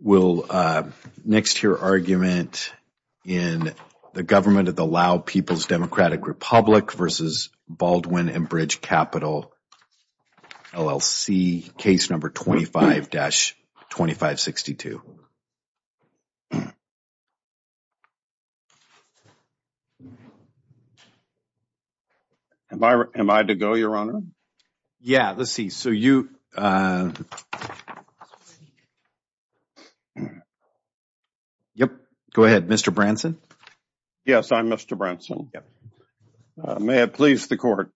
We'll next hear argument in the Government of the Lao People's Democratic Republic versus Baldwin and Bridge Capital, LLC, case number 25-2562. David Branson Yes, I'm Mr. Branson. May it please the Court,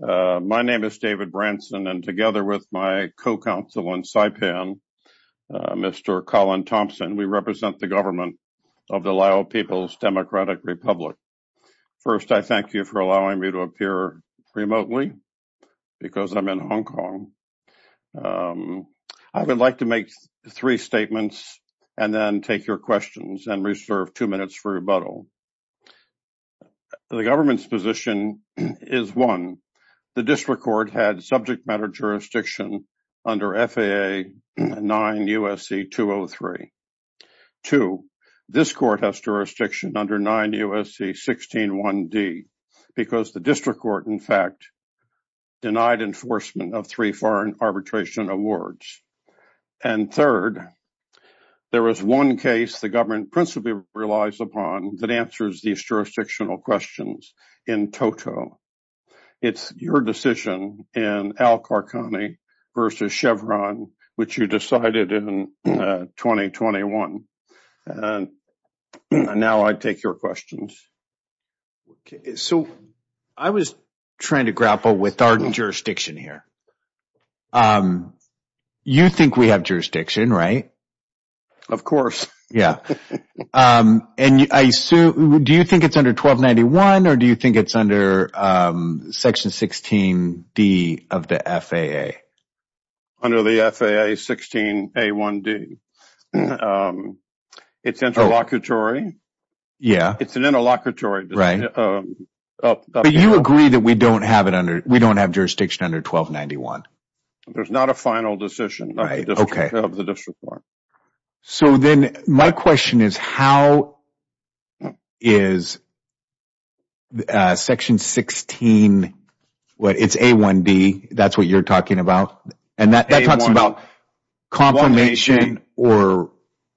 my name is David Branson and together with my co-counsel in Taipan, Mr. Colin Thompson, we represent the Government of the Lao People's Democratic Republic. First, I thank you for allowing me to appear remotely because I'm in Hong Kong. I would like to make three statements and then take your questions and reserve two minutes for rebuttal. The Government's position is one, the district court had subject matter jurisdiction under FAA 9 U.S.C. 203, two, this court has jurisdiction under 9 U.S.C. 161D because the district court in fact denied enforcement of three foreign arbitration awards, and third, there is one case the Government principally relies upon that answers these jurisdictional questions in toto. It's your decision in Al Qarqani versus Chevron, which you decided in 2021, and now I take your questions. David Branson Okay, so I was trying to grapple with our jurisdiction here. You think we have jurisdiction, right? Colin Thompson Of course. David Branson Do you think it's under 1291 or do you think it's under section 16D of the FAA? Colin Thompson Under the FAA 16A1D. It's interlocutory. David Branson Yeah. Colin Thompson It's an interlocutory decision. David Branson But you agree that we don't have jurisdiction under 1291? Colin Thompson There's not a final decision of the district court. David Branson So then my question is, how is section 16, it's A1D, that's what you're talking about, and that talks about confirmation or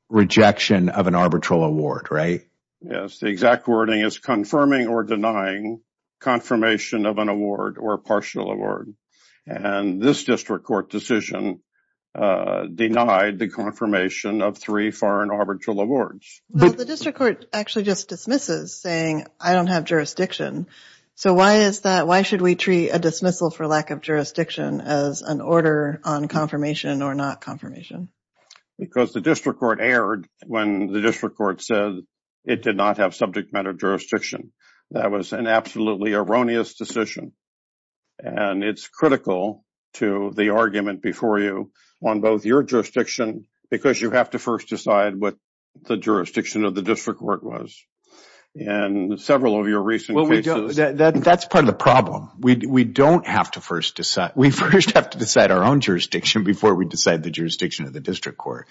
rejection of an arbitral award, right? Colin Thompson Yes, the exact wording is confirming or denying confirmation of an award or a partial award, and this district court decision denied the confirmation of three foreign arbitral awards. David Branson The district court actually just dismisses saying I don't have jurisdiction. So why is that? Why should we treat a dismissal for lack of jurisdiction as an order on confirmation or not confirmation? Colin Thompson Because the district court erred when the district court said it did not have subject matter jurisdiction. That was an absolutely erroneous decision, and it's critical to the argument before you on both your jurisdiction because you have to first decide what the jurisdiction of the district court was in several of your recent cases. David Branson That's part of the problem. We don't have to first decide. We first have to decide our own jurisdiction before we decide the jurisdiction of the district court,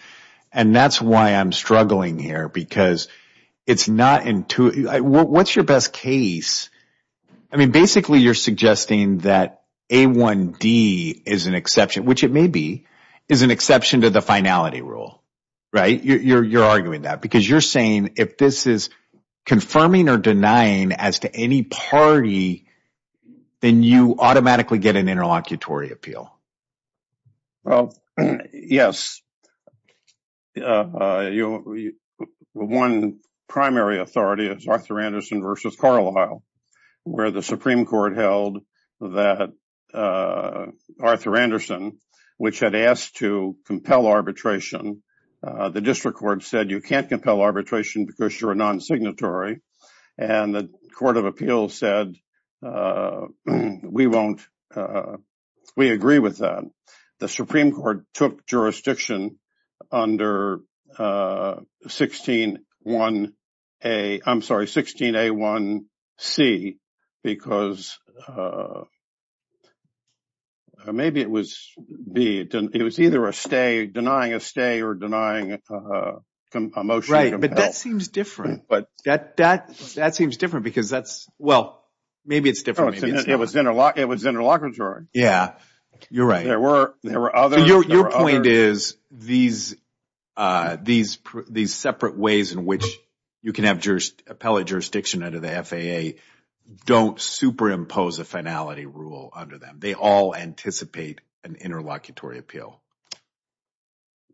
and that's why I'm struggling here because it's not intuitive. What's your best case? I mean, basically you're suggesting that A1D is an exception, which it may be, is an exception to the finality rule, right? You're arguing that because you're saying if this is confirming or denying as to any party, then you automatically get an interlocutory appeal. Colin Thompson Well, yes. One primary authority is Arthur Anderson v. Carlisle, where the Supreme Court held that Arthur Anderson, which had asked to compel arbitration, the district court said you can't compel arbitration because you're a non-signatory, and the court of appeals said we agree with that. The Supreme Court took jurisdiction under 16A1C because maybe it was either denying a stay or denying a motion to compel. David Branson Right, but that seems different. That seems different because that's, well, maybe it's different. Colin Thompson It was interlocutory. David Branson Yeah, you're right. Colin Thompson Your point is these separate ways in which you can have appellate jurisdiction under the FAA don't superimpose a finality rule under them. They all anticipate an interlocutory appeal. David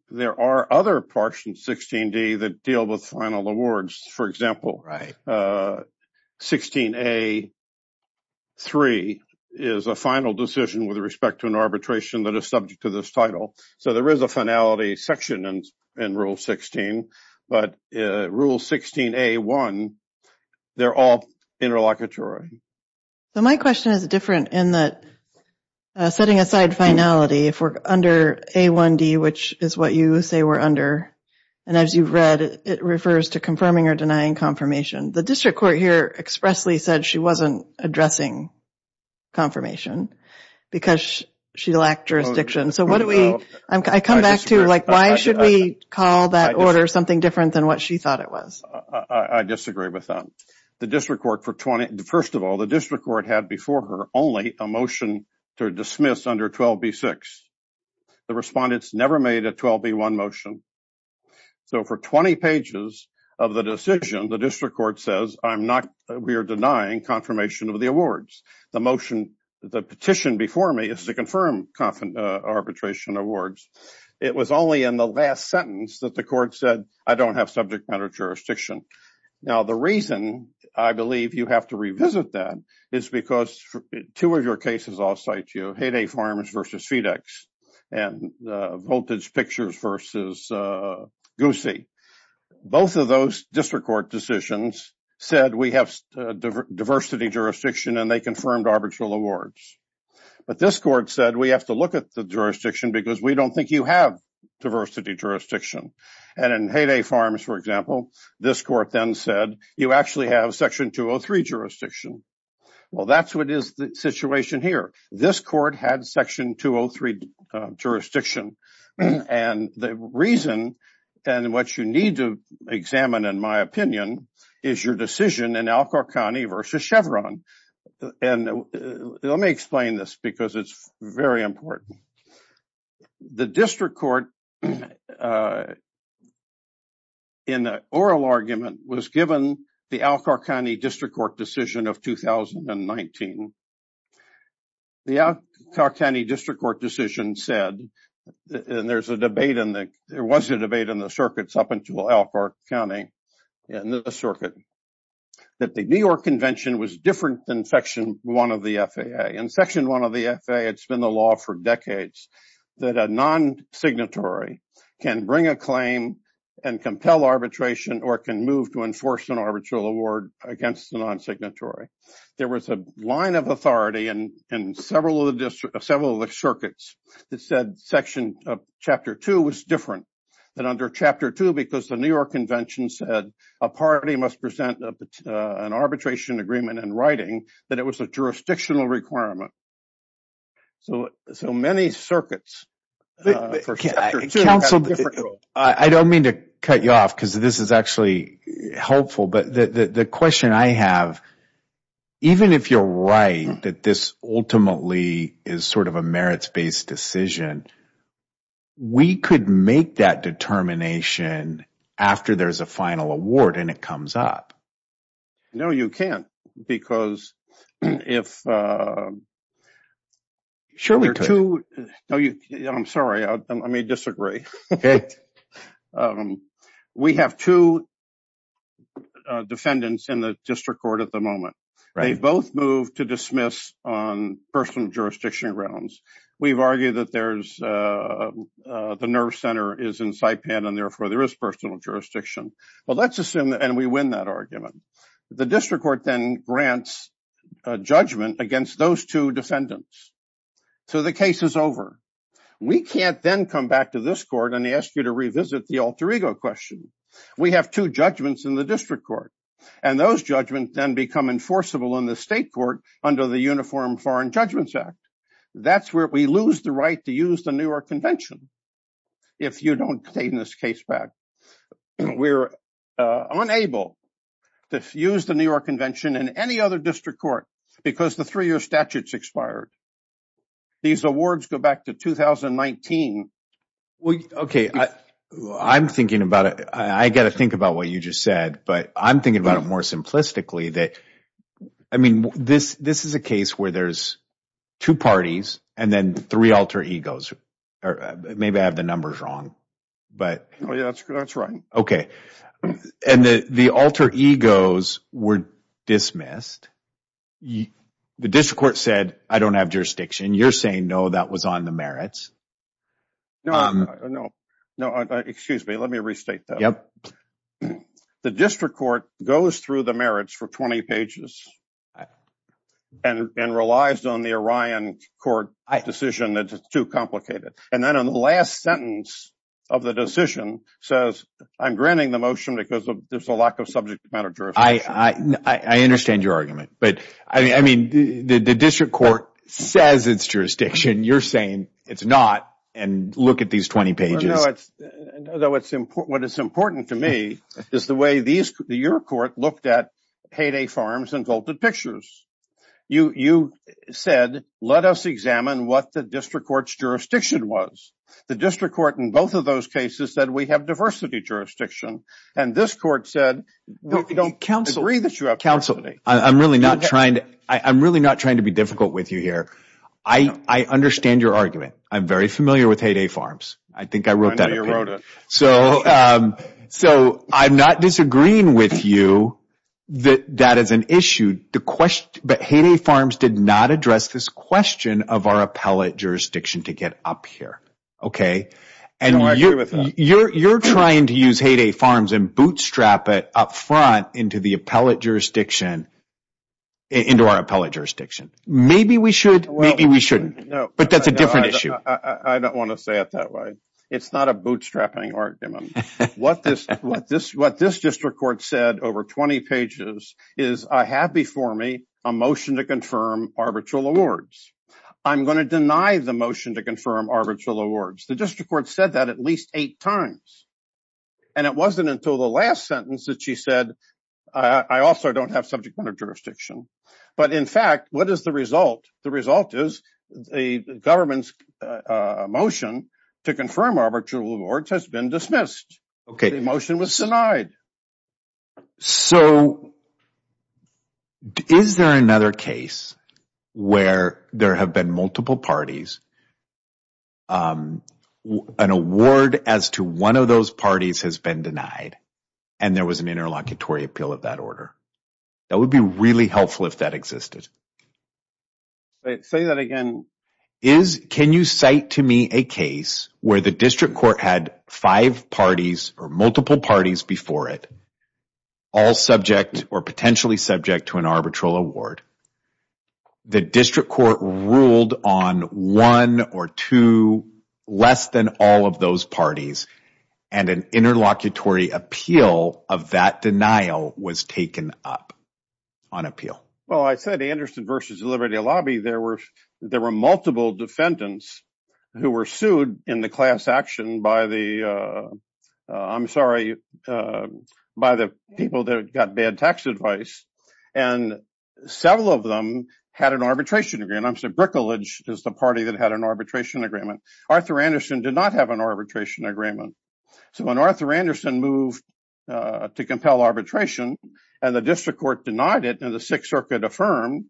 Branson There are other parts in 16D that deal with final awards. For example, 16A3 is a final decision with respect to an arbitration that is subject to this title. So there is a finality section in Rule 16, but Rule 16A1, they're all interlocutory. Colin Thompson My question is different in that setting aside finality, if we're under A1D, which is what you say we're under, and as you've read, it refers to confirming or denying confirmation. The district court here expressly said she wasn't addressing confirmation because she lacked jurisdiction. So what do we, I come back to, like, why should we call that order something different than what she thought it was? David Branson I disagree with that. The district court, first of all, the district court had before her only a motion to dismiss under 12B6. The respondents never made a 12B1 motion. So for 20 pages of the decision, the district court says, I'm not, we are denying confirmation of the awards. The motion, the petition before me is to confirm arbitration awards. It was only in the last sentence that the court said, I don't have subject matter jurisdiction. Now the reason I believe you have to revisit that is because two of your cases I'll cite to you, Hay Day Farms versus FedEx and Voltage Pictures versus Goosey, both of those district court decisions said we have diversity jurisdiction and they confirmed arbitral awards. But this court said we have to look at the jurisdiction because we don't think you have diversity jurisdiction. And in Hay Day Farms, for example, this court then said you actually have Section 203 jurisdiction. Well that's what is the situation here. This court had Section 203 jurisdiction. And the reason, and what you need to examine, in my opinion, is your decision in Al-Kharkhani versus Chevron. And let me explain this because it's very important. The district court in the oral argument was given the Al-Kharkhani district court decision of 2019. The Al-Kharkhani district court decision said, and there was a debate in the circuits up until Al-Kharkhani in the circuit, that the New York Convention was different than Section 1 of the FAA. In Section 1 of the FAA, it's been the law for decades that a non-signatory can bring a claim and compel arbitration or can move to enforce an arbitral award against the non-signatory. There was a line of authority in several of the circuits that said Chapter 2 was different than under Chapter 2 because the New York Convention said a party must present an arbitration agreement in writing that it was a jurisdictional requirement. So many circuits for Chapter 2 have a different rule. I don't mean to cut you off because this is actually helpful, but the question I have, even if you're right that this ultimately is sort of a merits-based decision, we could make that determination after there's a final award and it comes up. No, you can't, because if there are two – I'm sorry, I may disagree. We have two defendants in the district court at the moment. They've both moved to dismiss on personal jurisdiction grounds. We've argued that the nerve center is in Saipan and therefore there is personal jurisdiction. Well, let's assume that – and we win that argument. The district court then grants a judgment against those two defendants. So the case is over. We can't then come back to this court and ask you to revisit the alter ego question. We have two judgments in the district court, and those judgments then become enforceable in the state court under the Uniform Foreign Judgments Act. That's where we lose the right to use the New York Convention if you don't claim this case back. We're unable to use the New York Convention in any other district court because the three-year statute's expired. These awards go back to 2019. Okay, I'm thinking about it. I've got to think about what you just said, but I'm thinking about it more simplistically. I mean, this is a case where there's two parties and then three alter egos. Maybe I have the numbers wrong. Oh, yeah, that's right. Okay, and the alter egos were dismissed. The district court said, I don't have jurisdiction. You're saying, no, that was on the merits. No, no. No, excuse me. Let me restate that. Yep. The district court goes through the merits for 20 pages and relies on the Orion Court decision that it's too complicated. And then on the last sentence of the decision says, I'm granting the motion because there's a lack of subject matter jurisdiction. I understand your argument. But, I mean, the district court says it's jurisdiction. You're saying it's not, and look at these 20 pages. No, no. What is important to me is the way your court looked at Hay Day Farms and Golden Pictures. You said, let us examine what the district court's jurisdiction was. The district court in both of those cases said, we have diversity jurisdiction. And this court said, we don't agree that you have diversity. Counsel, I'm really not trying to be difficult with you here. I understand your argument. I'm very familiar with Hay Day Farms. I think I wrote that. I know you wrote it. So I'm not disagreeing with you that that is an issue. But Hay Day Farms did not address this question of our appellate jurisdiction to get up here. And you're trying to use Hay Day Farms and bootstrap it up front into our appellate jurisdiction. Maybe we should. Maybe we shouldn't. But that's a different issue. I don't want to say it that way. It's not a bootstrapping argument. What this district court said over 20 pages is, I have before me a motion to confirm arbitral awards. I'm going to deny the motion to confirm arbitral awards. The district court said that at least eight times. And it wasn't until the last sentence that she said, I also don't have subject matter jurisdiction. But in fact, what is the result? The result is the government's motion to confirm arbitral awards has been dismissed. The motion was denied. So is there another case where there have been multiple parties, an award as to one of those parties has been denied, and there was an interlocutory appeal of that order? That would be really helpful if that existed. Say that again. Can you cite to me a case where the district court had five parties or multiple parties before it, all subject or potentially subject to an arbitral award? The district court ruled on one or two less than all of those parties, and an interlocutory appeal of that denial was taken up on appeal. Well, I said Anderson versus Liberty Lobby. There were multiple defendants who were sued in the class action by the, I'm sorry, by the people that got bad tax advice, and several of them had an arbitration agreement. I'm sorry, Brickledge is the party that had an arbitration agreement. Arthur Anderson did not have an arbitration agreement. So when Arthur Anderson moved to compel arbitration, and the district court denied it, and the Sixth Circuit affirmed,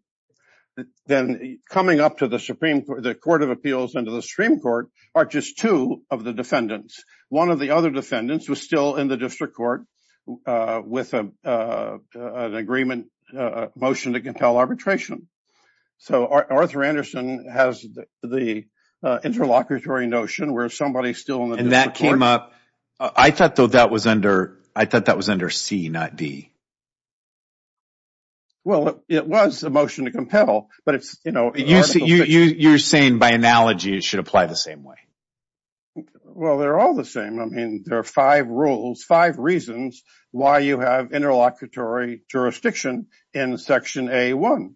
then coming up to the Supreme Court, the Court of Appeals and to the Supreme Court are just two of the defendants. One of the other defendants was still in the district court with an agreement motion to compel arbitration. So Arthur Anderson has the interlocutory notion where somebody is still in the district court. And that came up. I thought that was under C, not D. Well, it was a motion to compel, but it's, you know, You're saying by analogy it should apply the same way. Well, they're all the same. I mean, there are five rules, five reasons why you have interlocutory jurisdiction in Section A-1.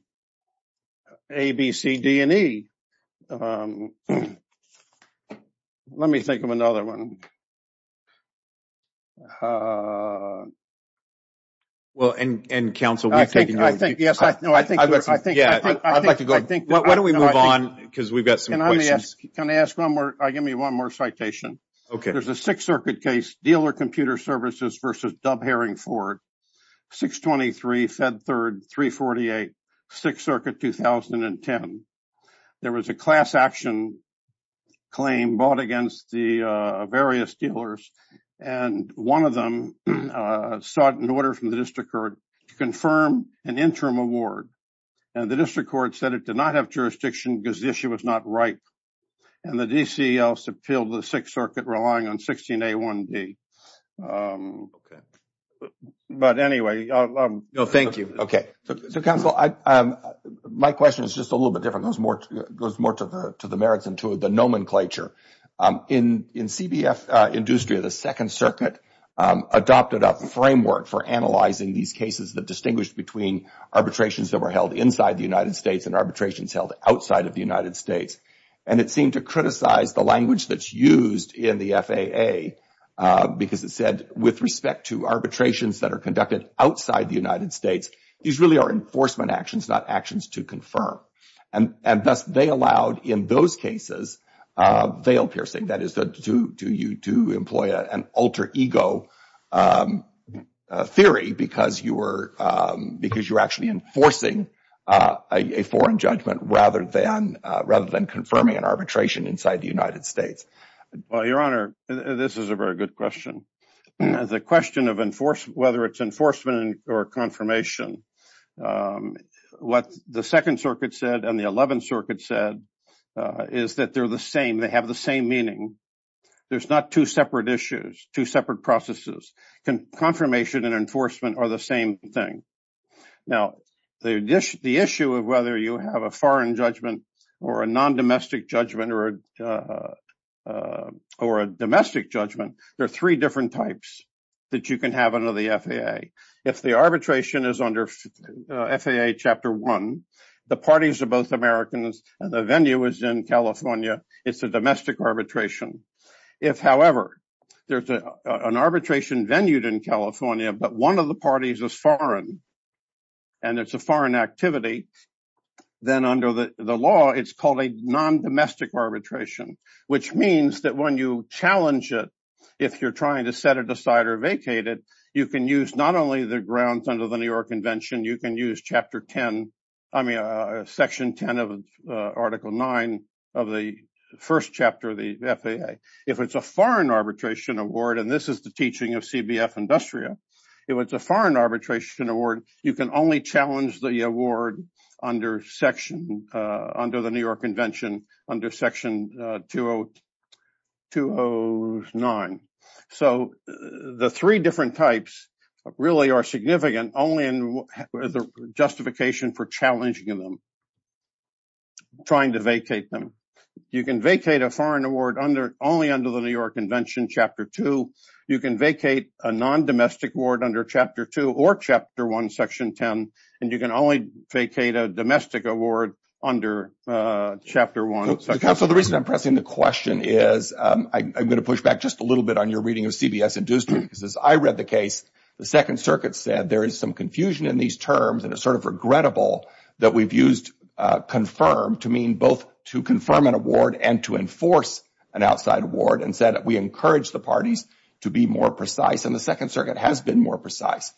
A, B, C, D, and E. Let me think of another one. Well, and counsel, we've taken over. I think, yes, I'd like to go. Why don't we move on, because we've got some questions. Can I ask one more? Give me one more citation. There's a Sixth Circuit case, Dealer Computer Services v. Dub Herring Ford, 623 Fed 3rd, 348, Sixth Circuit, 2010. There was a class action claim brought against the various dealers. And one of them sought an order from the district court to confirm an interim award. And the district court said it did not have jurisdiction because the issue was not ripe. And the D.C. also appealed to the Sixth Circuit relying on 16-A-1-D. But anyway. No, thank you. Okay. So, counsel, my question is just a little bit different. It goes more to the merits and to the nomenclature. In CBF industry, the Second Circuit adopted a framework for analyzing these cases that distinguished between arbitrations that were held inside the United States and arbitrations held outside of the United States. And it seemed to criticize the language that's used in the FAA, because it said, with respect to arbitrations that are conducted outside the United States, these really are enforcement actions, not actions to confirm. And thus, they allowed, in those cases, veil-piercing. That is, to employ an alter-ego theory because you're actually enforcing a foreign judgment rather than confirming an arbitration inside the United States. Well, Your Honor, this is a very good question. The question of whether it's enforcement or confirmation, what the Second Circuit said and the Eleventh Circuit said is that they're the same. They have the same meaning. There's not two separate issues, two separate processes. Confirmation and enforcement are the same thing. Now, the issue of whether you have a foreign judgment or a non-domestic judgment or a domestic judgment, there are three different types that you can have under the FAA. If the arbitration is under FAA Chapter 1, the parties are both Americans and the venue is in California. It's a domestic arbitration. If, however, there's an arbitration venue in California, but one of the parties is foreign and it's a foreign activity, then under the law, it's called a non-domestic arbitration, which means that when you challenge it, if you're trying to set it aside or vacate it, you can use not only the grounds under the New York Convention. You can use Section 10 of Article 9 of the first chapter of the FAA. If it's a foreign arbitration award, and this is the teaching of CBF Industria, if it's a foreign arbitration award, you can only challenge the award under the New York Convention under Section 209. The three different types really are significant only in the justification for challenging them, trying to vacate them. You can vacate a foreign award only under the New York Convention, Chapter 2. You can vacate a non-domestic award under Chapter 2 or Chapter 1, Section 10, and you can only vacate a domestic award under Chapter 1. Counsel, the reason I'm pressing the question is I'm going to push back just a little bit on your reading of CBS Industria. As I read the case, the Second Circuit said there is some confusion in these terms and it's sort of regrettable that we've used confirm to mean both to confirm an award and to enforce an outside award and said that we encourage the parties to be more precise. The Second Circuit has been more precise.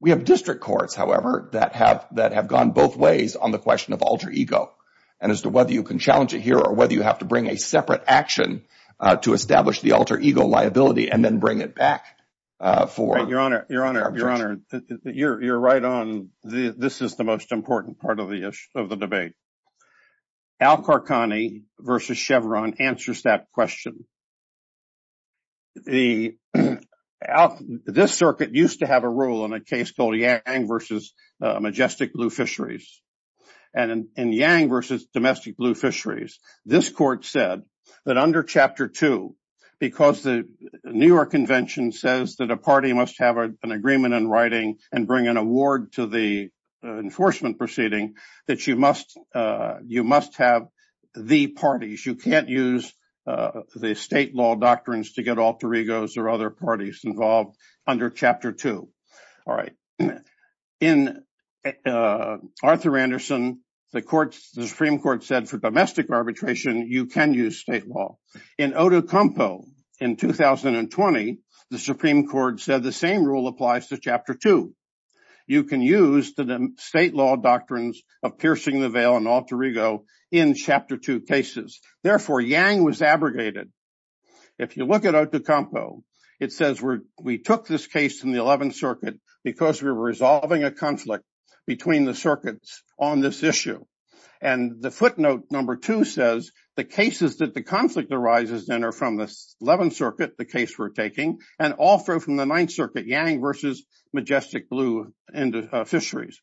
We have district courts, however, that have gone both ways on the question of alter ego and as to whether you can challenge it here or whether you have to bring a separate action to establish the alter ego liability and then bring it back for arbitration. Your Honor, you're right on. This is the most important part of the debate. Al Qarqani versus Chevron answers that question. This circuit used to have a rule in a case called Yang versus Majestic Blue Fisheries. And in Yang versus Domestic Blue Fisheries, this court said that under Chapter 2, because the New York Convention says that a party must have an agreement in writing and bring an award to the enforcement proceeding that you must have the parties. You can't use the state law doctrines to get alter egos or other parties involved under Chapter 2. All right. In Arthur Anderson, the Supreme Court said for domestic arbitration, you can use state law. In Odukampo in 2020, the Supreme Court said the same rule applies to Chapter 2. You can use the state law doctrines of piercing the veil and alter ego in Chapter 2 cases. Therefore, Yang was abrogated. If you look at Odukampo, it says we took this case in the 11th Circuit because we were resolving a conflict between the circuits on this issue. And the footnote number 2 says the cases that the conflict arises in are from the 11th Circuit, the case we're taking, and also from the 9th Circuit, Yang versus Majestic Blue Fisheries.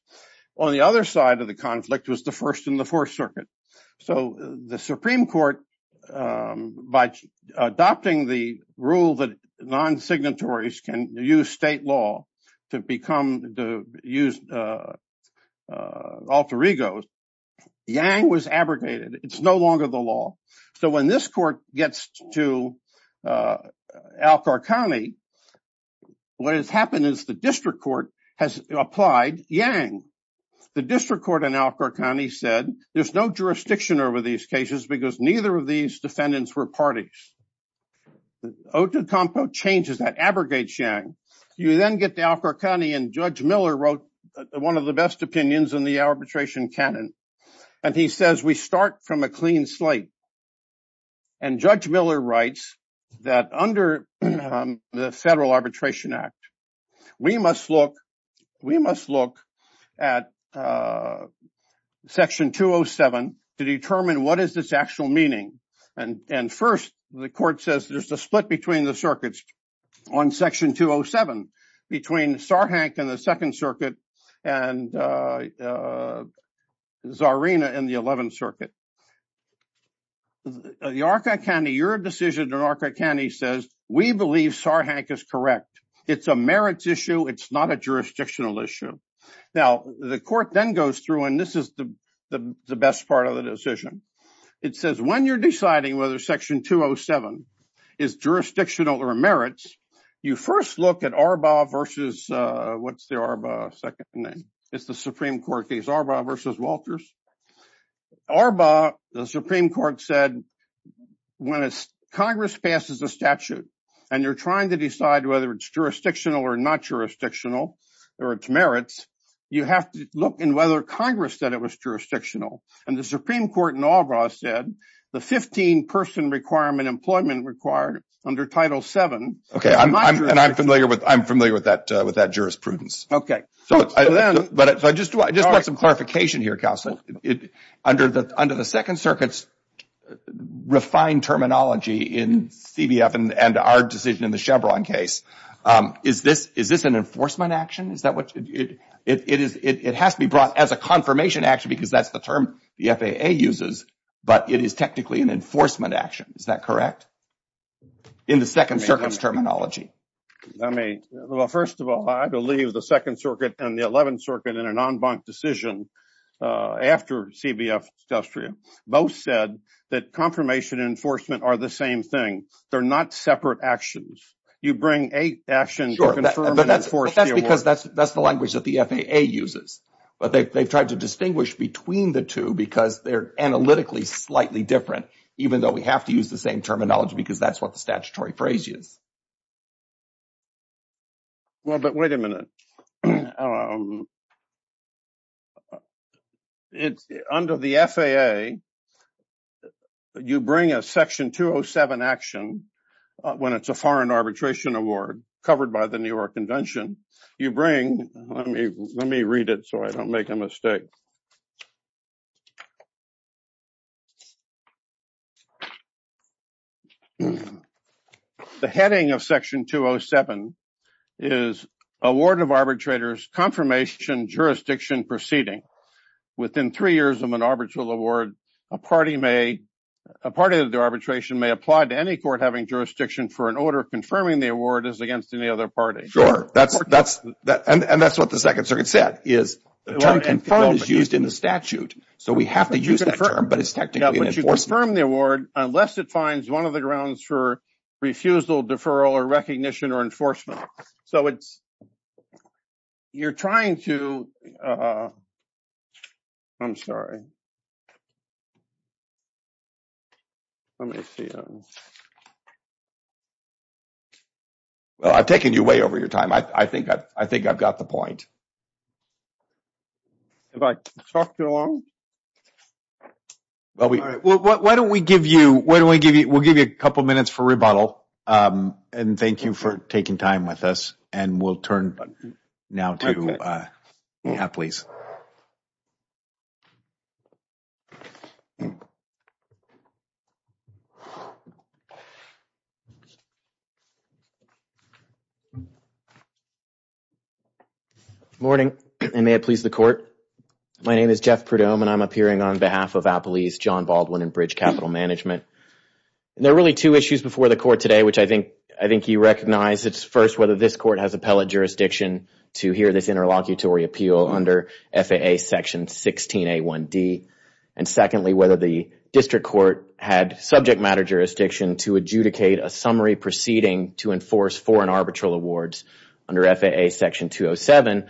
On the other side of the conflict was the 1st and the 4th Circuit. So the Supreme Court, by adopting the rule that non-signatories can use state law to use alter egos, Yang was abrogated. It's no longer the law. So when this court gets to Alcor County, what has happened is the district court has applied Yang. The district court in Alcor County said there's no jurisdiction over these cases because neither of these defendants were parties. Odukampo changes that, abrogates Yang. You then get to Alcor County, and Judge Miller wrote one of the best opinions in the arbitration canon. And he says we start from a clean slate. And Judge Miller writes that under the Federal Arbitration Act, we must look at Section 207 to determine what is its actual meaning. And first, the court says there's a split between the circuits on Section 207, between Sarhank in the 2nd Circuit and Zarina in the 11th Circuit. The Alcor County, your decision in Alcor County says we believe Sarhank is correct. It's a merits issue. It's not a jurisdictional issue. Now, the court then goes through, and this is the best part of the decision. It says when you're deciding whether Section 207 is jurisdictional or merits, you first look at Arbaugh versus, what's the Arbaugh second name? It's the Supreme Court case, Arbaugh versus Walters. Arbaugh, the Supreme Court said, when Congress passes a statute and you're trying to decide whether it's jurisdictional or not jurisdictional or its merits, you have to look in whether Congress said it was jurisdictional. And the Supreme Court in Arbaugh said the 15-person requirement employment required under Title VII. Okay, and I'm familiar with that jurisprudence. So I just want some clarification here, Counselor. Under the 2nd Circuit's refined terminology in CBF and our decision in the Chevron case, is this an enforcement action? It has to be brought as a confirmation action because that's the term the FAA uses, but it is technically an enforcement action. Is that correct in the 2nd Circuit's terminology? Well, first of all, I believe the 2nd Circuit and the 11th Circuit in an en banc decision after CBF, both said that confirmation and enforcement are the same thing. They're not separate actions. Sure, but that's because that's the language that the FAA uses. But they've tried to distinguish between the two because they're analytically slightly different, even though we have to use the same terminology because that's what the statutory phrase is. Well, but wait a minute. Under the FAA, you bring a Section 207 action when it's a foreign arbitration award covered by the New York Convention. You bring – let me read it so I don't make a mistake. The heading of Section 207 is Award of Arbitrators Confirmation Jurisdiction Proceeding. Within three years of an arbitral award, a party of the arbitration may apply to any court having jurisdiction for an order confirming the award is against any other party. Sure, that's – and that's what the 2nd Circuit said is the term confirmed is used in the statute. So we have to use that term, but it's technically an enforcement. Yeah, but you confirm the award unless it finds one of the grounds for refusal, deferral, or recognition or enforcement. So it's – you're trying to – I'm sorry. Let me see. Well, I've taken you way over your time. I think I've got the point. Have I talked you long? Well, why don't we give you – we'll give you a couple minutes for rebuttal, and thank you for taking time with us, and we'll turn now to – yeah, please. Good morning, and may it please the Court. My name is Jeff Prudhomme, and I'm appearing on behalf of Appellees John Baldwin and Bridge Capital Management. There are really two issues before the Court today, which I think you recognize. It's, first, whether this Court has appellate jurisdiction to hear this interlocutory appeal under FAA Section 16A1D, and, secondly, whether the District Court had subject matter jurisdiction to adjudicate a summary proceeding to enforce foreign arbitral awards under FAA Section 207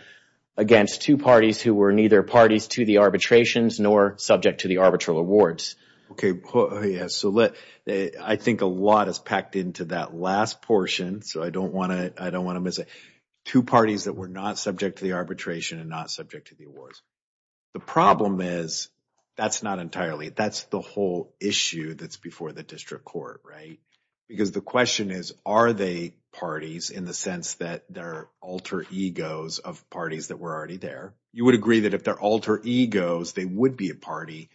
against two parties who were neither parties to the arbitrations nor subject to the arbitral awards. So let – I think a lot is packed into that last portion, so I don't want to miss it. Two parties that were not subject to the arbitration and not subject to the awards. The problem is that's not entirely – that's the whole issue that's before the District Court, right? Because the question is, are they parties in the sense that they're alter egos of parties that were already there? You would agree that if they're alter egos, they would be a party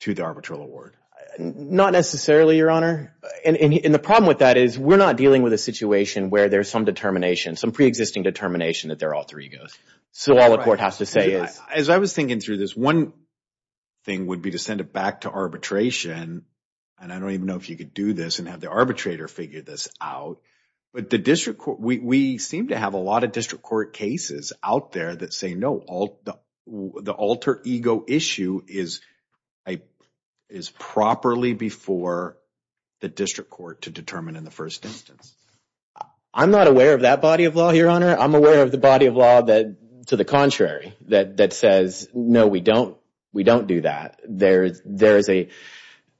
to the arbitral award? Not necessarily, Your Honor. And the problem with that is we're not dealing with a situation where there's some determination, some preexisting determination that they're alter egos. So all the court has to say is – As I was thinking through this, one thing would be to send it back to arbitration, and I don't even know if you could do this and have the arbitrator figure this out, but the District Court – we seem to have a lot of District Court cases out there that say no, the alter ego issue is properly before the District Court to determine in the first instance. I'm not aware of that body of law, Your Honor. I'm aware of the body of law to the contrary that says no, we don't do that. There is a –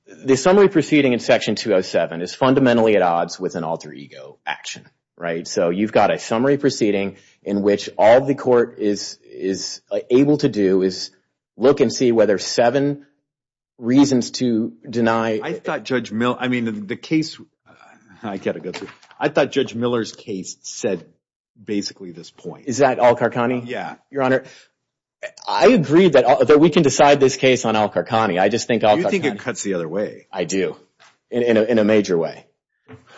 the summary proceeding in Section 207 is fundamentally at odds with an alter ego action, right? So you've got a summary proceeding in which all the court is able to do is look and see whether seven reasons to deny – I thought Judge Miller's case said basically this point. Is that Al-Qarqani? Yeah. Your Honor, I agree that we can decide this case on Al-Qarqani. I just think Al-Qarqani – You think it cuts the other way. I do, in a major way,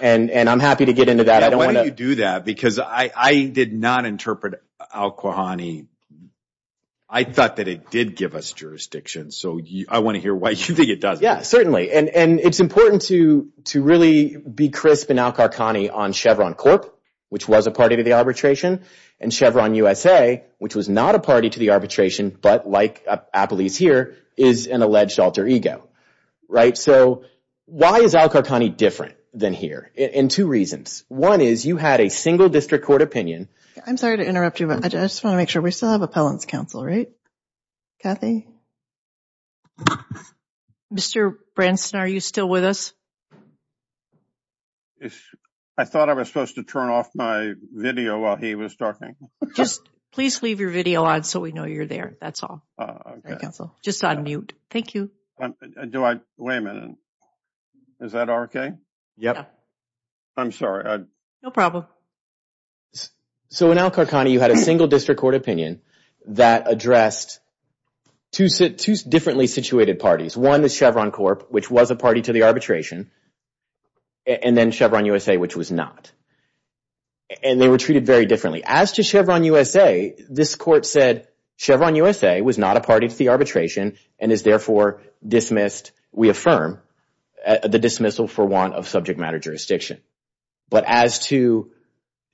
and I'm happy to get into that. Why do you do that? Because I did not interpret Al-Qarqani – I thought that it did give us jurisdiction, so I want to hear why you think it doesn't. Yeah, certainly. And it's important to really be crisp in Al-Qarqani on Chevron Corp., which was a party to the arbitration, and Chevron USA, which was not a party to the arbitration but, like Appley's here, is an alleged alter ego, right? So why is Al-Qarqani different than here? And two reasons. One is you had a single district court opinion. I'm sorry to interrupt you, but I just want to make sure. We still have appellant's counsel, right, Kathy? Mr. Branson, are you still with us? I thought I was supposed to turn off my video while he was talking. Just please leave your video on so we know you're there. That's all. Okay. Just on mute. Thank you. Do I – wait a minute. Is that okay? Yeah. I'm sorry. No problem. So in Al-Qarqani, you had a single district court opinion that addressed two differently situated parties. One is Chevron Corp., which was a party to the arbitration, and then Chevron USA, which was not. And they were treated very differently. As to Chevron USA, this court said Chevron USA was not a party to the arbitration and is therefore dismissed, we affirm, the dismissal for want of subject matter jurisdiction. But as to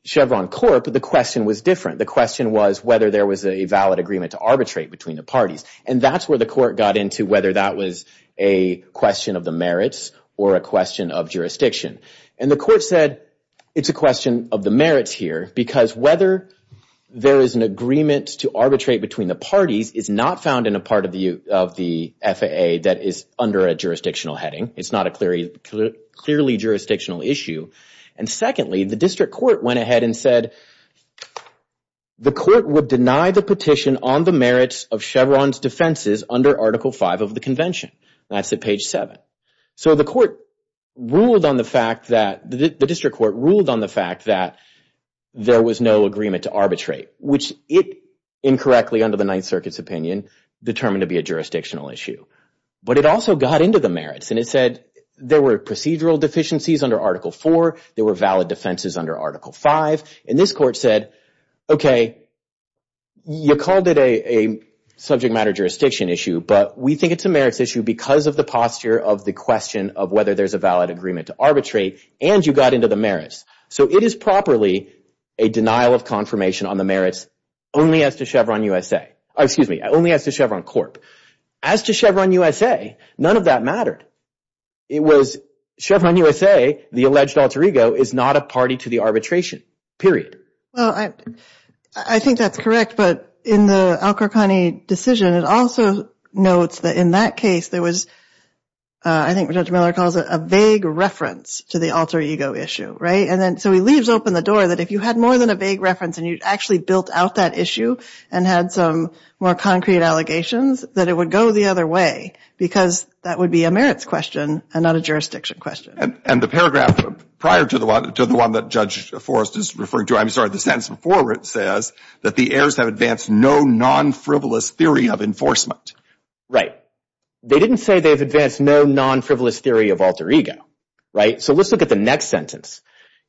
Chevron Corp., the question was different. The question was whether there was a valid agreement to arbitrate between the parties. And that's where the court got into whether that was a question of the merits or a question of jurisdiction. And the court said it's a question of the merits here because whether there is an agreement to arbitrate between the parties is not found in a part of the FAA that is under a jurisdictional heading. It's not a clearly jurisdictional issue. And secondly, the district court went ahead and said the court would deny the petition on the merits of Chevron's defenses under Article V of the Convention. That's at page 7. So the court ruled on the fact that the district court ruled on the fact that there was no agreement to arbitrate, which it incorrectly under the Ninth Circuit's opinion determined to be a jurisdictional issue. But it also got into the merits. And it said there were procedural deficiencies under Article IV. There were valid defenses under Article V. And this court said, okay, you called it a subject matter jurisdiction issue, but we think it's a merits issue because of the posture of the question of whether there's a valid agreement to arbitrate. And you got into the merits. So it is properly a denial of confirmation on the merits only as to Chevron Corp. As to Chevron U.S.A., none of that mattered. It was Chevron U.S.A., the alleged alter ego, is not a party to the arbitration, period. Well, I think that's correct. But in the Al-Qurqani decision, it also notes that in that case there was, I think Judge Miller calls it, a vague reference to the alter ego issue, right? And then so he leaves open the door that if you had more than a vague reference and you actually built out that issue and had some more concrete allegations that it would go the other way because that would be a merits question and not a jurisdiction question. And the paragraph prior to the one that Judge Forrest is referring to, I'm sorry, the sentence before it says that the heirs have advanced no non-frivolous theory of enforcement. Right. They didn't say they've advanced no non-frivolous theory of alter ego, right? So let's look at the next sentence.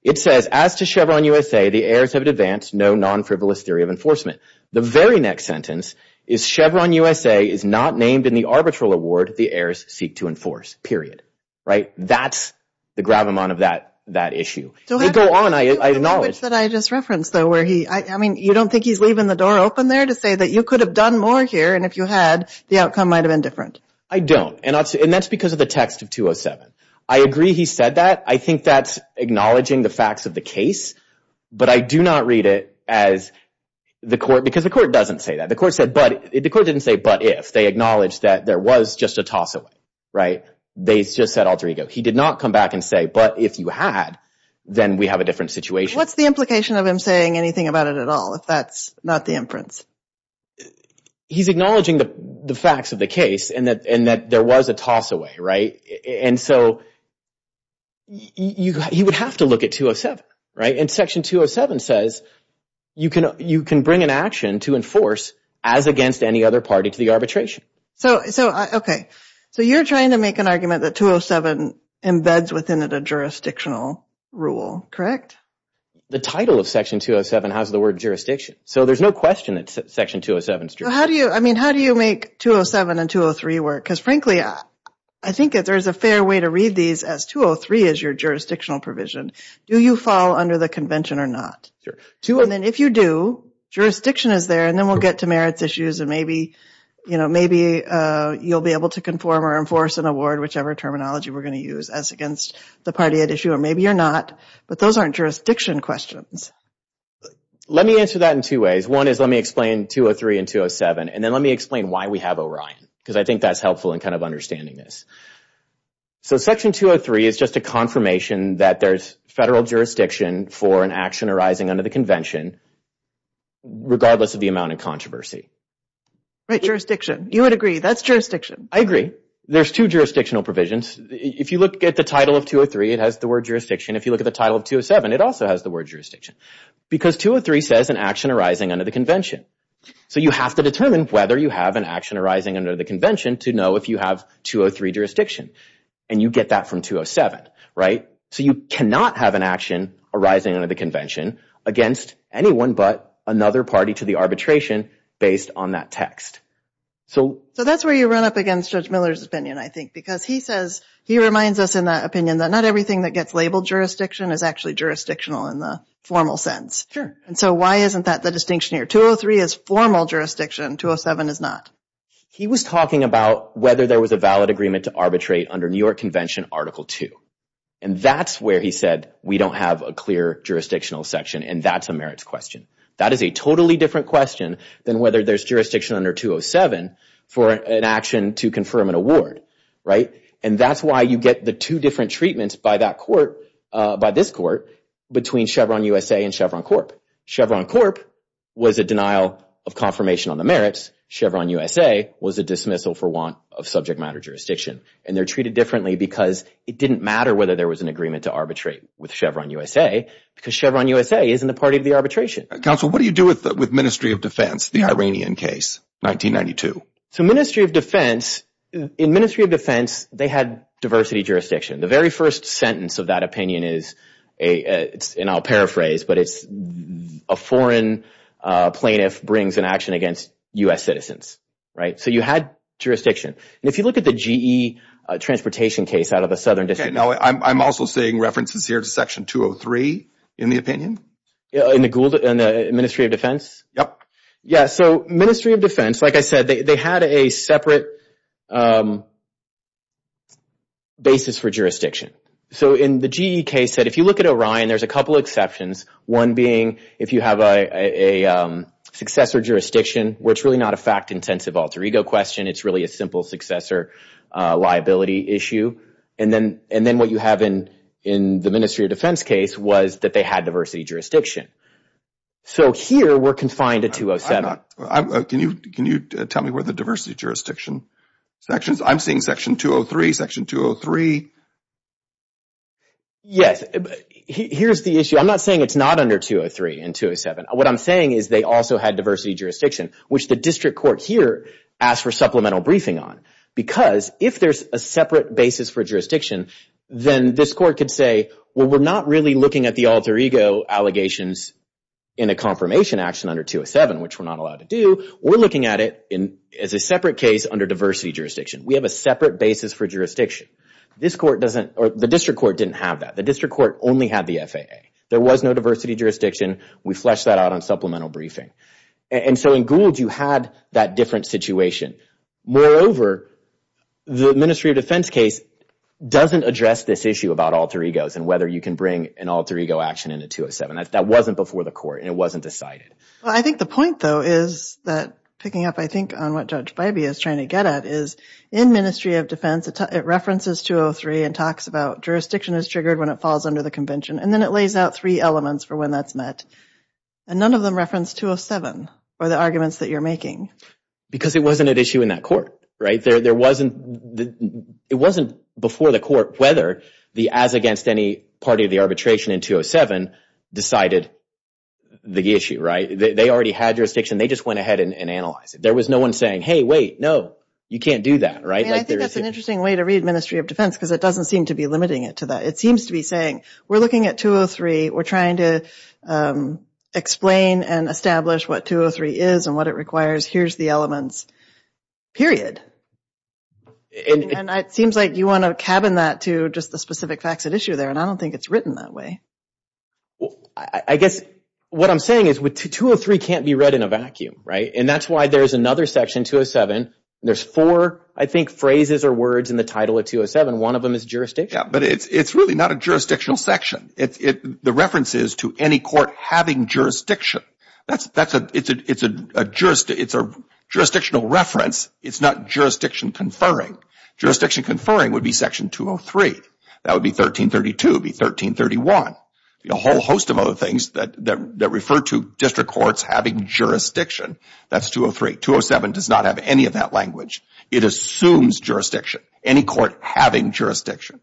It says, as to Chevron U.S.A., the heirs have advanced no non-frivolous theory of enforcement. The very next sentence is Chevron U.S.A. is not named in the arbitral award the heirs seek to enforce, period. Right. That's the gravamon of that issue. It could go on, I acknowledge. The language that I just referenced, though, where he, I mean, you don't think he's leaving the door open there to say that you could have done more here and if you had, the outcome might have been different? I don't. And that's because of the text of 207. I agree he said that. I think that's acknowledging the facts of the case. But I do not read it as the court, because the court doesn't say that. The court said but, the court didn't say but if. They acknowledged that there was just a toss away. Right. They just said alter ego. He did not come back and say, but if you had, then we have a different situation. What's the implication of him saying anything about it at all if that's not the inference? He's acknowledging the facts of the case and that there was a toss away. Right. And so you would have to look at 207, right? And Section 207 says you can bring an action to enforce as against any other party to the arbitration. So, okay, so you're trying to make an argument that 207 embeds within it a jurisdictional rule, correct? The title of Section 207 has the word jurisdiction. So there's no question that Section 207 is jurisdictional. How do you, I mean, how do you make 207 and 203 work? Because, frankly, I think there's a fair way to read these as 203 is your jurisdictional provision. Do you fall under the convention or not? Sure. And then if you do, jurisdiction is there and then we'll get to merits issues and maybe, you know, maybe you'll be able to conform or enforce an award, whichever terminology we're going to use, as against the party at issue. Or maybe you're not. But those aren't jurisdiction questions. Let me answer that in two ways. One is let me explain 203 and 207. And then let me explain why we have Orion, because I think that's helpful in kind of understanding this. So Section 203 is just a confirmation that there's federal jurisdiction for an action arising under the convention, regardless of the amount of controversy. Right, jurisdiction. You would agree that's jurisdiction. I agree. There's two jurisdictional provisions. If you look at the title of 203, it has the word jurisdiction. If you look at the title of 207, it also has the word jurisdiction, because 203 says an action arising under the convention. So you have to determine whether you have an action arising under the convention to know if you have 203 jurisdiction. And you get that from 207. Right? So you cannot have an action arising under the convention against anyone but another party to the arbitration based on that text. So that's where you run up against Judge Miller's opinion, I think, because he says he reminds us in that opinion that not everything that gets labeled jurisdiction is actually jurisdictional in the formal sense. Sure. And so why isn't that the distinction here? 203 is formal jurisdiction. 207 is not. He was talking about whether there was a valid agreement to arbitrate under New York Convention Article 2. And that's where he said we don't have a clear jurisdictional section, and that's a merits question. That is a totally different question than whether there's jurisdiction under 207 for an action to confirm an award. Right? And that's why you get the two different treatments by that court, by this court, between Chevron USA and Chevron Corp. Chevron Corp was a denial of confirmation on the merits. Chevron USA was a dismissal for want of subject matter jurisdiction. And they're treated differently because it didn't matter whether there was an agreement to arbitrate with Chevron USA because Chevron USA isn't a party to the arbitration. Counsel, what do you do with Ministry of Defense, the Iranian case, 1992? So Ministry of Defense, in Ministry of Defense, they had diversity jurisdiction. The very first sentence of that opinion is, and I'll paraphrase, but it's a foreign plaintiff brings an action against U.S. citizens. Right? So you had jurisdiction. And if you look at the GE transportation case out of the Southern District. Now, I'm also seeing references here to Section 203 in the opinion. In the Ministry of Defense? Yep. Yeah, so Ministry of Defense, like I said, they had a separate basis for jurisdiction. So in the GE case, if you look at Orion, there's a couple exceptions, one being if you have a successor jurisdiction where it's really not a fact-intensive alter ego question. It's really a simple successor liability issue. And then what you have in the Ministry of Defense case was that they had diversity jurisdiction. So here we're confined to 207. Can you tell me where the diversity jurisdiction section is? I'm seeing Section 203, Section 203. Yes. Here's the issue. I'm not saying it's not under 203 and 207. What I'm saying is they also had diversity jurisdiction, which the district court here asked for supplemental briefing on. Because if there's a separate basis for jurisdiction, then this court could say, well, we're not really looking at the alter ego allegations in a confirmation action under 207, which we're not allowed to do. We're looking at it as a separate case under diversity jurisdiction. We have a separate basis for jurisdiction. The district court didn't have that. The district court only had the FAA. There was no diversity jurisdiction. We fleshed that out on supplemental briefing. And so in Goulds, you had that different situation. Moreover, the Ministry of Defense case doesn't address this issue about alter egos and whether you can bring an alter ego action into 207. That wasn't before the court, and it wasn't decided. Well, I think the point, though, is that picking up, I think, on what Judge Bybee is trying to get at is in Ministry of Defense it references 203 and talks about jurisdiction is triggered when it falls under the convention, and then it lays out three elements for when that's met. And none of them reference 207 or the arguments that you're making. Because it wasn't at issue in that court, right? It wasn't before the court whether the as against any party of the arbitration in 207 decided the issue, right? They already had jurisdiction. They just went ahead and analyzed it. There was no one saying, hey, wait, no, you can't do that, right? I think that's an interesting way to read Ministry of Defense because it doesn't seem to be limiting it to that. It seems to be saying we're looking at 203. We're trying to explain and establish what 203 is and what it requires. Here's the elements, period. And it seems like you want to cabin that to just the specific facts at issue there, and I don't think it's written that way. I guess what I'm saying is 203 can't be read in a vacuum, right? And that's why there's another section, 207. There's four, I think, phrases or words in the title of 207. One of them is jurisdiction. Yeah, but it's really not a jurisdictional section. The reference is to any court having jurisdiction. It's a jurisdictional reference. It's not jurisdiction conferring. Jurisdiction conferring would be Section 203. That would be 1332. It would be 1331. A whole host of other things that refer to district courts having jurisdiction. That's 203. 207 does not have any of that language. It assumes jurisdiction, any court having jurisdiction.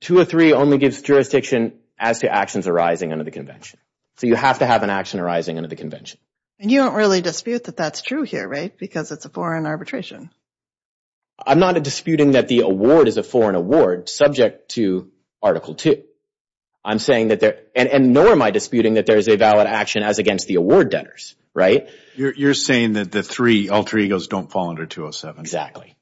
203 only gives jurisdiction as to actions arising under the Convention. So you have to have an action arising under the Convention. And you don't really dispute that that's true here, right, because it's a foreign arbitration. I'm not disputing that the award is a foreign award subject to Article 2. I'm saying that there – and nor am I disputing that there is a valid action as against the award debtors, right? You're saying that the three alter egos don't fall under 207. Exactly.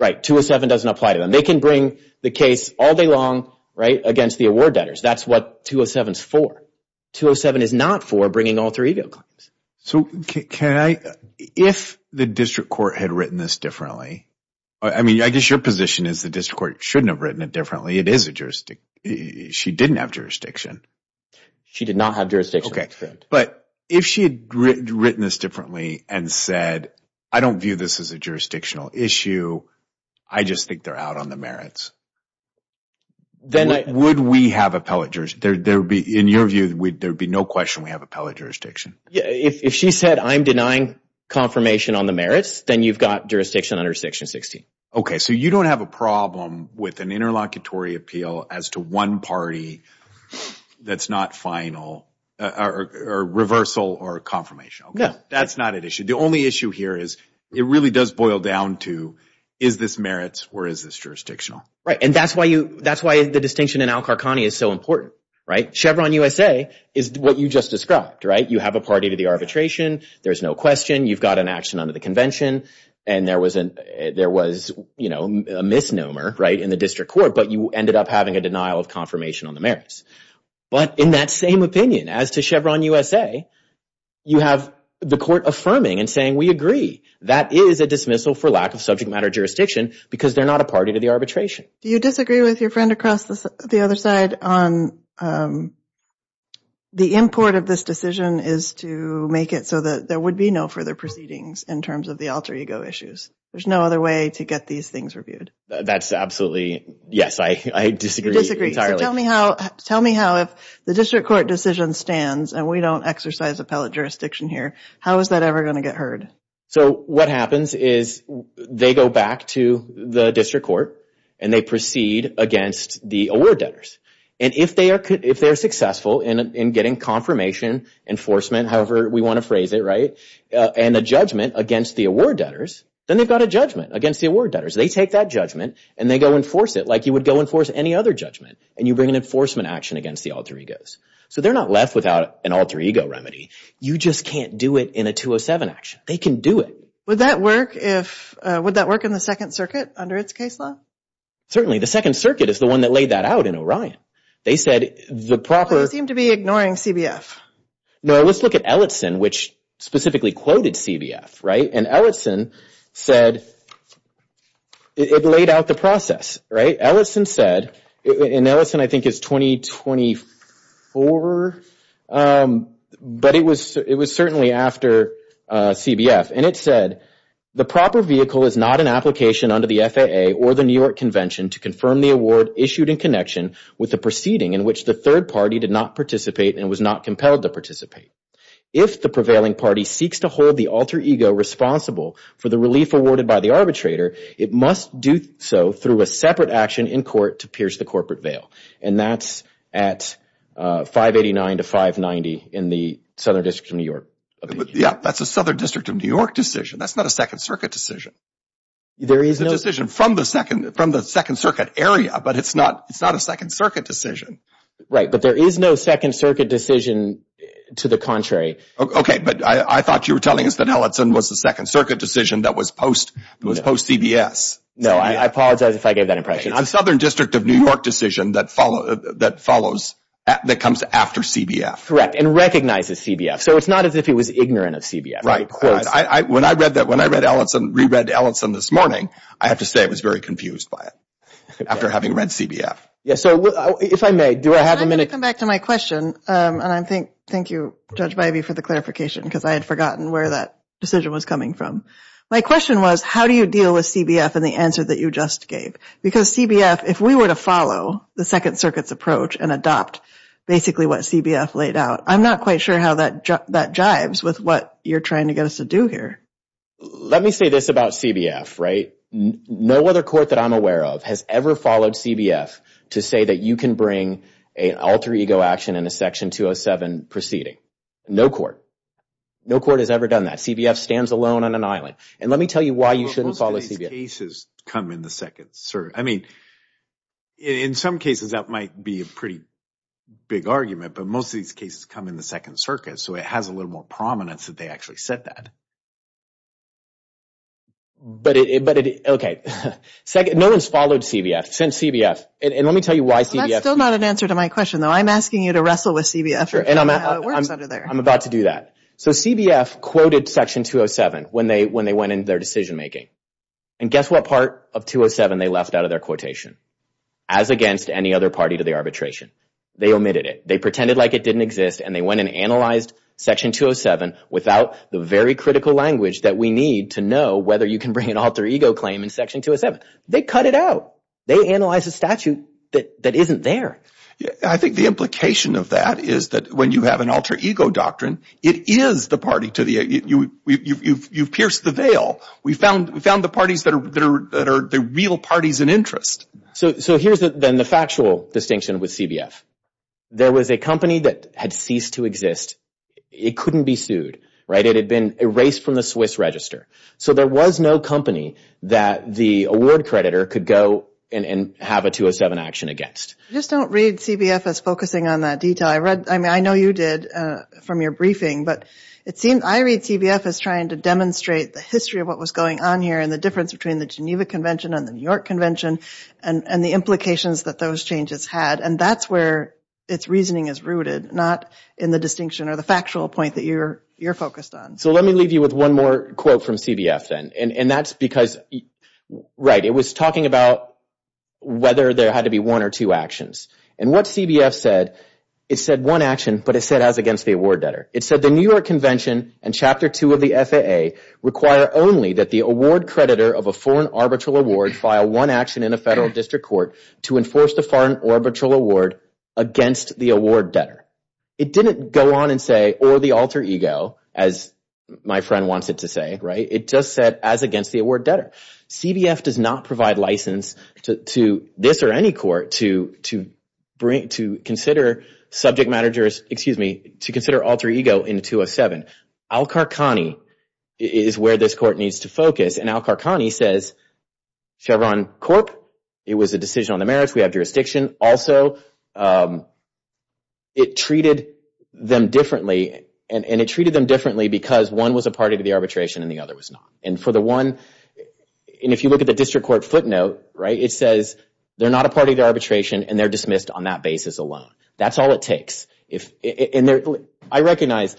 Right, 207 doesn't apply to them. They can bring the case all day long, right, against the award debtors. That's what 207 is for. 207 is not for bringing alter ego claims. So can I – if the district court had written this differently – I mean, I guess your position is the district court shouldn't have written it differently. It is a jurisdiction. She didn't have jurisdiction. She did not have jurisdiction. Okay, but if she had written this differently and said, I don't view this as a jurisdictional issue. I just think they're out on the merits, would we have appellate jurisdiction? In your view, there would be no question we have appellate jurisdiction. If she said, I'm denying confirmation on the merits, then you've got jurisdiction under Section 16. Okay, so you don't have a problem with an interlocutory appeal as to one party that's not final or reversal or confirmation. No. That's not an issue. The only issue here is it really does boil down to is this merits or is this jurisdictional. Right, and that's why the distinction in Al-Qarqani is so important. Chevron USA is what you just described. You have a party to the arbitration. There's no question. You've got an action under the convention, and there was a misnomer in the district court, but you ended up having a denial of confirmation on the merits. But in that same opinion, as to Chevron USA, you have the court affirming and saying, we agree. That is a dismissal for lack of subject matter jurisdiction because they're not a party to the arbitration. Do you disagree with your friend across the other side on the import of this decision is to make it so that there would be no further proceedings in terms of the alter ego issues? There's no other way to get these things reviewed. That's absolutely, yes, I disagree entirely. So tell me how if the district court decision stands and we don't exercise appellate jurisdiction here, how is that ever going to get heard? So what happens is they go back to the district court and they proceed against the award debtors. And if they're successful in getting confirmation, enforcement, however we want to phrase it, right, and a judgment against the award debtors, then they've got a judgment against the award debtors. They take that judgment and they go enforce it like you would go enforce any other judgment. And you bring an enforcement action against the alter egos. So they're not left without an alter ego remedy. You just can't do it in a 207 action. They can do it. Would that work in the Second Circuit under its case law? Certainly. The Second Circuit is the one that laid that out in Orion. They said the proper – They seem to be ignoring CBF. No, let's look at Ellotson, which specifically quoted CBF, right? And Ellotson said it laid out the process, right? Ellotson said, and Ellotson I think is 2024, but it was certainly after CBF, and it said, the proper vehicle is not an application under the FAA or the New York Convention to confirm the award issued in connection with the proceeding in which the third party did not participate and was not compelled to participate. If the prevailing party seeks to hold the alter ego responsible for the relief awarded by the arbitrator, it must do so through a separate action in court to pierce the corporate veil. And that's at 589 to 590 in the Southern District of New York. Yeah, that's a Southern District of New York decision. That's not a Second Circuit decision. It's a decision from the Second Circuit area, but it's not a Second Circuit decision. Right, but there is no Second Circuit decision to the contrary. Okay, but I thought you were telling us that Ellotson was the Second Circuit decision that was post-CBS. No, I apologize if I gave that impression. It's a Southern District of New York decision that comes after CBF. Correct, and recognizes CBF. So it's not as if he was ignorant of CBF. When I read Ellotson, re-read Ellotson this morning, I have to say I was very confused by it after having read CBF. Yes, so if I may, do I have a minute? I'm going to come back to my question, and thank you, Judge Bybee, for the clarification because I had forgotten where that decision was coming from. My question was how do you deal with CBF and the answer that you just gave? Because CBF, if we were to follow the Second Circuit's approach and adopt basically what CBF laid out, I'm not quite sure how that jibes with what you're trying to get us to do here. Let me say this about CBF, right? No other court that I'm aware of has ever followed CBF to say that you can bring an alter ego action in a Section 207 proceeding. No court. No court has ever done that. CBF stands alone on an island. And let me tell you why you shouldn't follow CBF. But most of these cases come in the Second Circuit. I mean, in some cases, that might be a pretty big argument, but most of these cases come in the Second Circuit, so it has a little more prominence that they actually said that. But it, okay. No one's followed CBF since CBF. And let me tell you why CBF... Well, that's still not an answer to my question, though. I'm asking you to wrestle with CBF and see how it works under there. I'm about to do that. So CBF quoted Section 207 when they went into their decision-making. And guess what part of 207 they left out of their quotation? As against any other party to the arbitration. They omitted it. They pretended like it didn't exist, and they went and analyzed Section 207 without the very critical language that we need to know whether you can bring an alter ego claim in Section 207. They cut it out. They analyzed a statute that isn't there. I think the implication of that is that when you have an alter ego doctrine, it is the party to the... You've pierced the veil. We found the parties that are the real parties in interest. So here's then the factual distinction with CBF. There was a company that had ceased to exist. It couldn't be sued, right? It had been erased from the Swiss Register. So there was no company that the award creditor could go and have a 207 action against. I just don't read CBF as focusing on that detail. I know you did from your briefing, but I read CBF as trying to demonstrate the history of what was going on here and the difference between the Geneva Convention and the New York Convention and the implications that those changes had. And that's where its reasoning is rooted, not in the distinction or the factual point that you're focused on. So let me leave you with one more quote from CBF then. And that's because... Right, it was talking about whether there had to be one or two actions. And what CBF said, it said one action, but it said as against the award debtor. It said, It didn't go on and say, or the alter ego, as my friend wants it to say, right? It just said as against the award debtor. CBF does not provide license to this or any court to consider subject matters, excuse me, to consider alter ego in 207. Al-Kharkhani is where this court needs to focus. And Al-Kharkhani says Chevron Corp., it was a decision on the merits, we have jurisdiction. Also, it treated them differently. And it treated them differently because one was a party to the arbitration and the other was not. And if you look at the district court footnote, it says they're not a party to arbitration and they're dismissed on that basis alone. That's all it takes. I recognize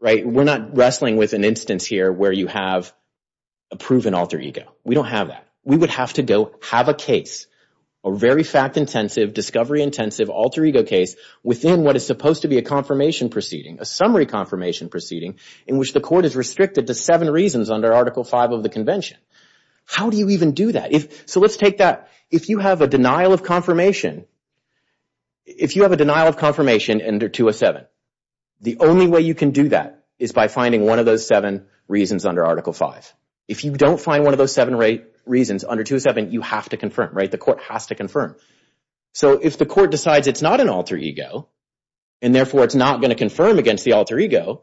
we're not wrestling with an instance here where you have a proven alter ego. We don't have that. We would have to go have a case, a very fact-intensive, discovery-intensive alter ego case within what is supposed to be a confirmation proceeding, a summary confirmation proceeding, in which the court is restricted to seven reasons under Article V of the Convention. How do you even do that? So let's take that. If you have a denial of confirmation, if you have a denial of confirmation under 207, the only way you can do that is by finding one of those seven reasons under Article V. If you don't find one of those seven reasons under 207, you have to confirm, right? The court has to confirm. So if the court decides it's not an alter ego and therefore it's not going to confirm against the alter ego,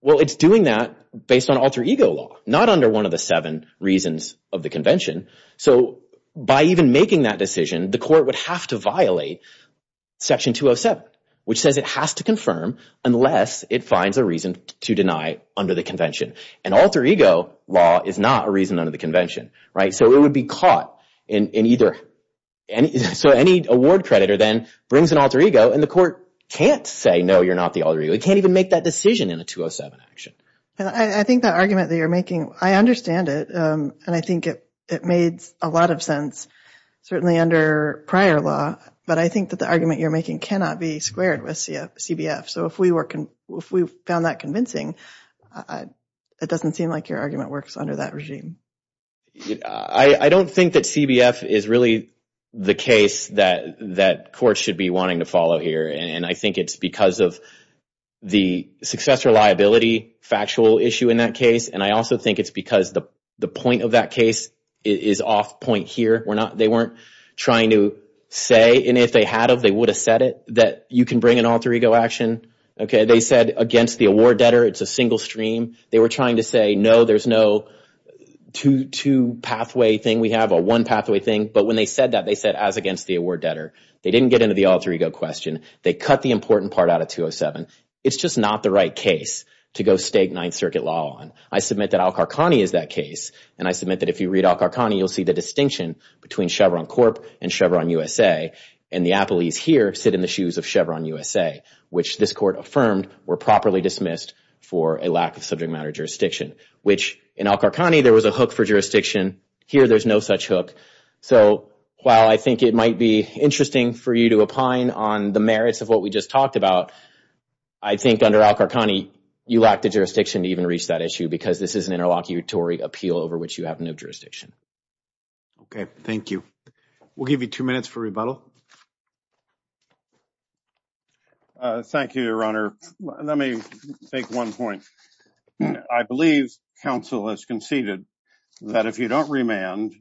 well, it's doing that based on alter ego law, not under one of the seven reasons of the Convention. So by even making that decision, the court would have to violate Section 207, which says it has to confirm unless it finds a reason to deny under the Convention. An alter ego law is not a reason under the Convention, right? So it would be caught in either... So any award creditor then brings an alter ego, and the court can't say, no, you're not the alter ego. It can't even make that decision in a 207 action. I think that argument that you're making, I understand it, and I think it made a lot of sense, certainly under prior law, but I think that the argument you're making cannot be squared with CBF. So if we found that convincing, it doesn't seem like your argument works under that regime. I don't think that CBF is really the case that courts should be wanting to follow here, and I think it's because of the successor liability factual issue in that case, and I also think it's because the point of that case is off point here. They weren't trying to say, and if they had, they would have said it, that you can bring an alter ego action. They said against the award debtor, it's a single stream. They were trying to say, no, there's no two pathway thing we have, a one pathway thing, but when they said that, they said as against the award debtor. They didn't get into the alter ego question. They cut the important part out of 207. It's just not the right case to go state Ninth Circuit law on. I submit that Al-Qarqani is that case, and I submit that if you read Al-Qarqani, you'll see the distinction between Chevron Corp. and Chevron USA, and the Appleys here sit in the shoes of Chevron USA, which this court affirmed were properly dismissed for a lack of subject matter jurisdiction, which in Al-Qarqani, there was a hook for jurisdiction. Here, there's no such hook, so while I think it might be interesting for you to opine on the merits of what we just talked about, I think under Al-Qarqani, you lack the jurisdiction to even reach that issue because this is an interlocutory appeal over which you have no jurisdiction. Okay, thank you. We'll give you two minutes for rebuttal. Thank you, Your Honor. Let me make one point. I believe counsel has conceded that if you don't remand,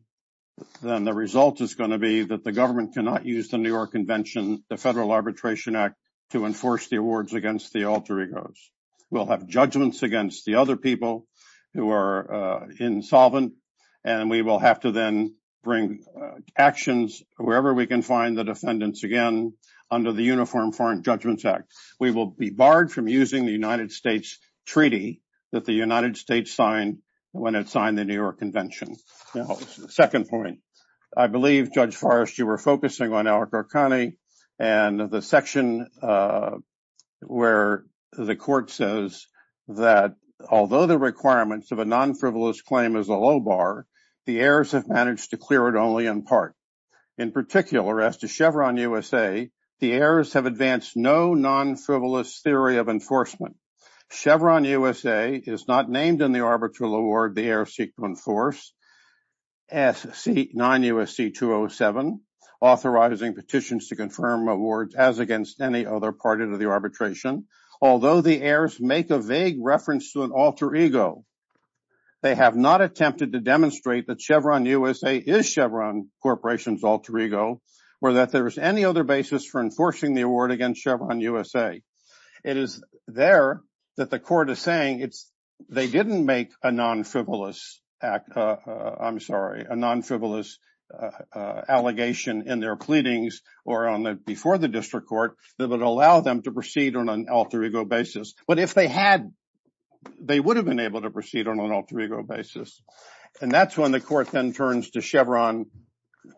then the result is going to be that the government cannot use the New York Convention, the Federal Arbitration Act, to enforce the awards against the alter egos. We'll have judgments against the other people who are insolvent, and we will have to then bring actions wherever we can find the defendants again under the Uniform Foreign Judgments Act. We will be barred from using the United States Treaty that the United States signed when it signed the New York Convention. Now, the second point. I believe, Judge Forrest, you were focusing on Al-Qarqani and the section where the court says that although the requirements of a non-frivolous claim is a low bar, the heirs have managed to clear it only in part. In particular, as to Chevron USA, the heirs have advanced no non-frivolous theory of enforcement. Chevron USA is not named in the arbitral award the heirs seek to enforce, as see 9 U.S.C. 207, authorizing petitions to confirm awards as against any other party to the arbitration, although the heirs make a vague reference to an alter ego. They have not attempted to demonstrate that Chevron USA is Chevron Corporation's alter ego or that there is any other basis for enforcing the award against Chevron USA. It is there that the court is saying they didn't make a non-frivolous act. I'm sorry, a non-frivolous allegation in their pleadings or before the district court that would allow them to proceed on an alter ego basis. But if they had, they would have been able to proceed on an alter ego basis. And that's when the court then turns to Chevron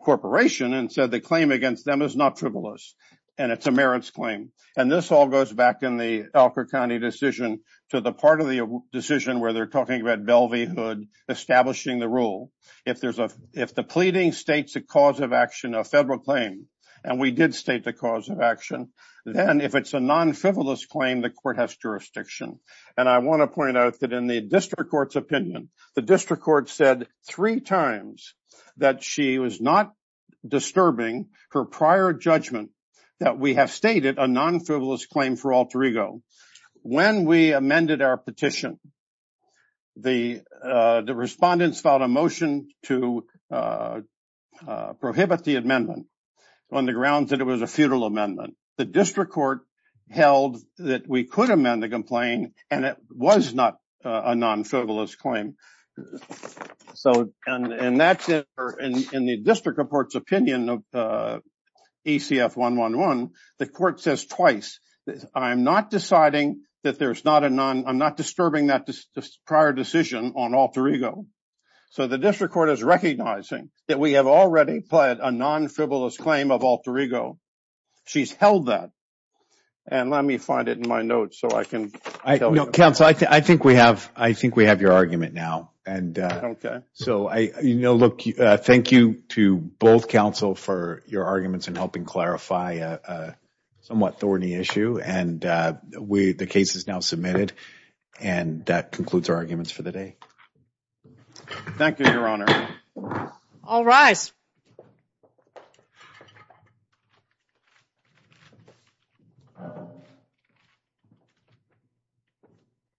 Corporation and said the claim against them is not frivolous and it's a merits claim. And this all goes back in the Elker County decision to the part of the decision where they're talking about Belvey Hood establishing the rule. If the pleading states a cause of action, a federal claim, and we did state the cause of action, then if it's a non-frivolous claim, the court has jurisdiction. And I want to point out that in the district court's opinion, the district court said three times that she was not disturbing her prior judgment that we have stated a non-frivolous claim for alter ego. When we amended our petition, the respondents filed a motion to prohibit the amendment on the grounds that it was a feudal amendment. The district court held that we could amend the complaint and it was not a non-frivolous claim. And that's it. In the district court's opinion of ECF 111, the court says twice, I'm not disturbing that prior decision on alter ego. So the district court is recognizing that we have already pled a non-frivolous claim of alter ego. She's held that. And let me find it in my notes so I can tell you. Counsel, I think we have your argument now. Okay. Thank you to both counsel for your arguments in helping clarify a somewhat thorny issue. And the case is now submitted. And that concludes our arguments for the day. Thank you, Your Honor. All rise.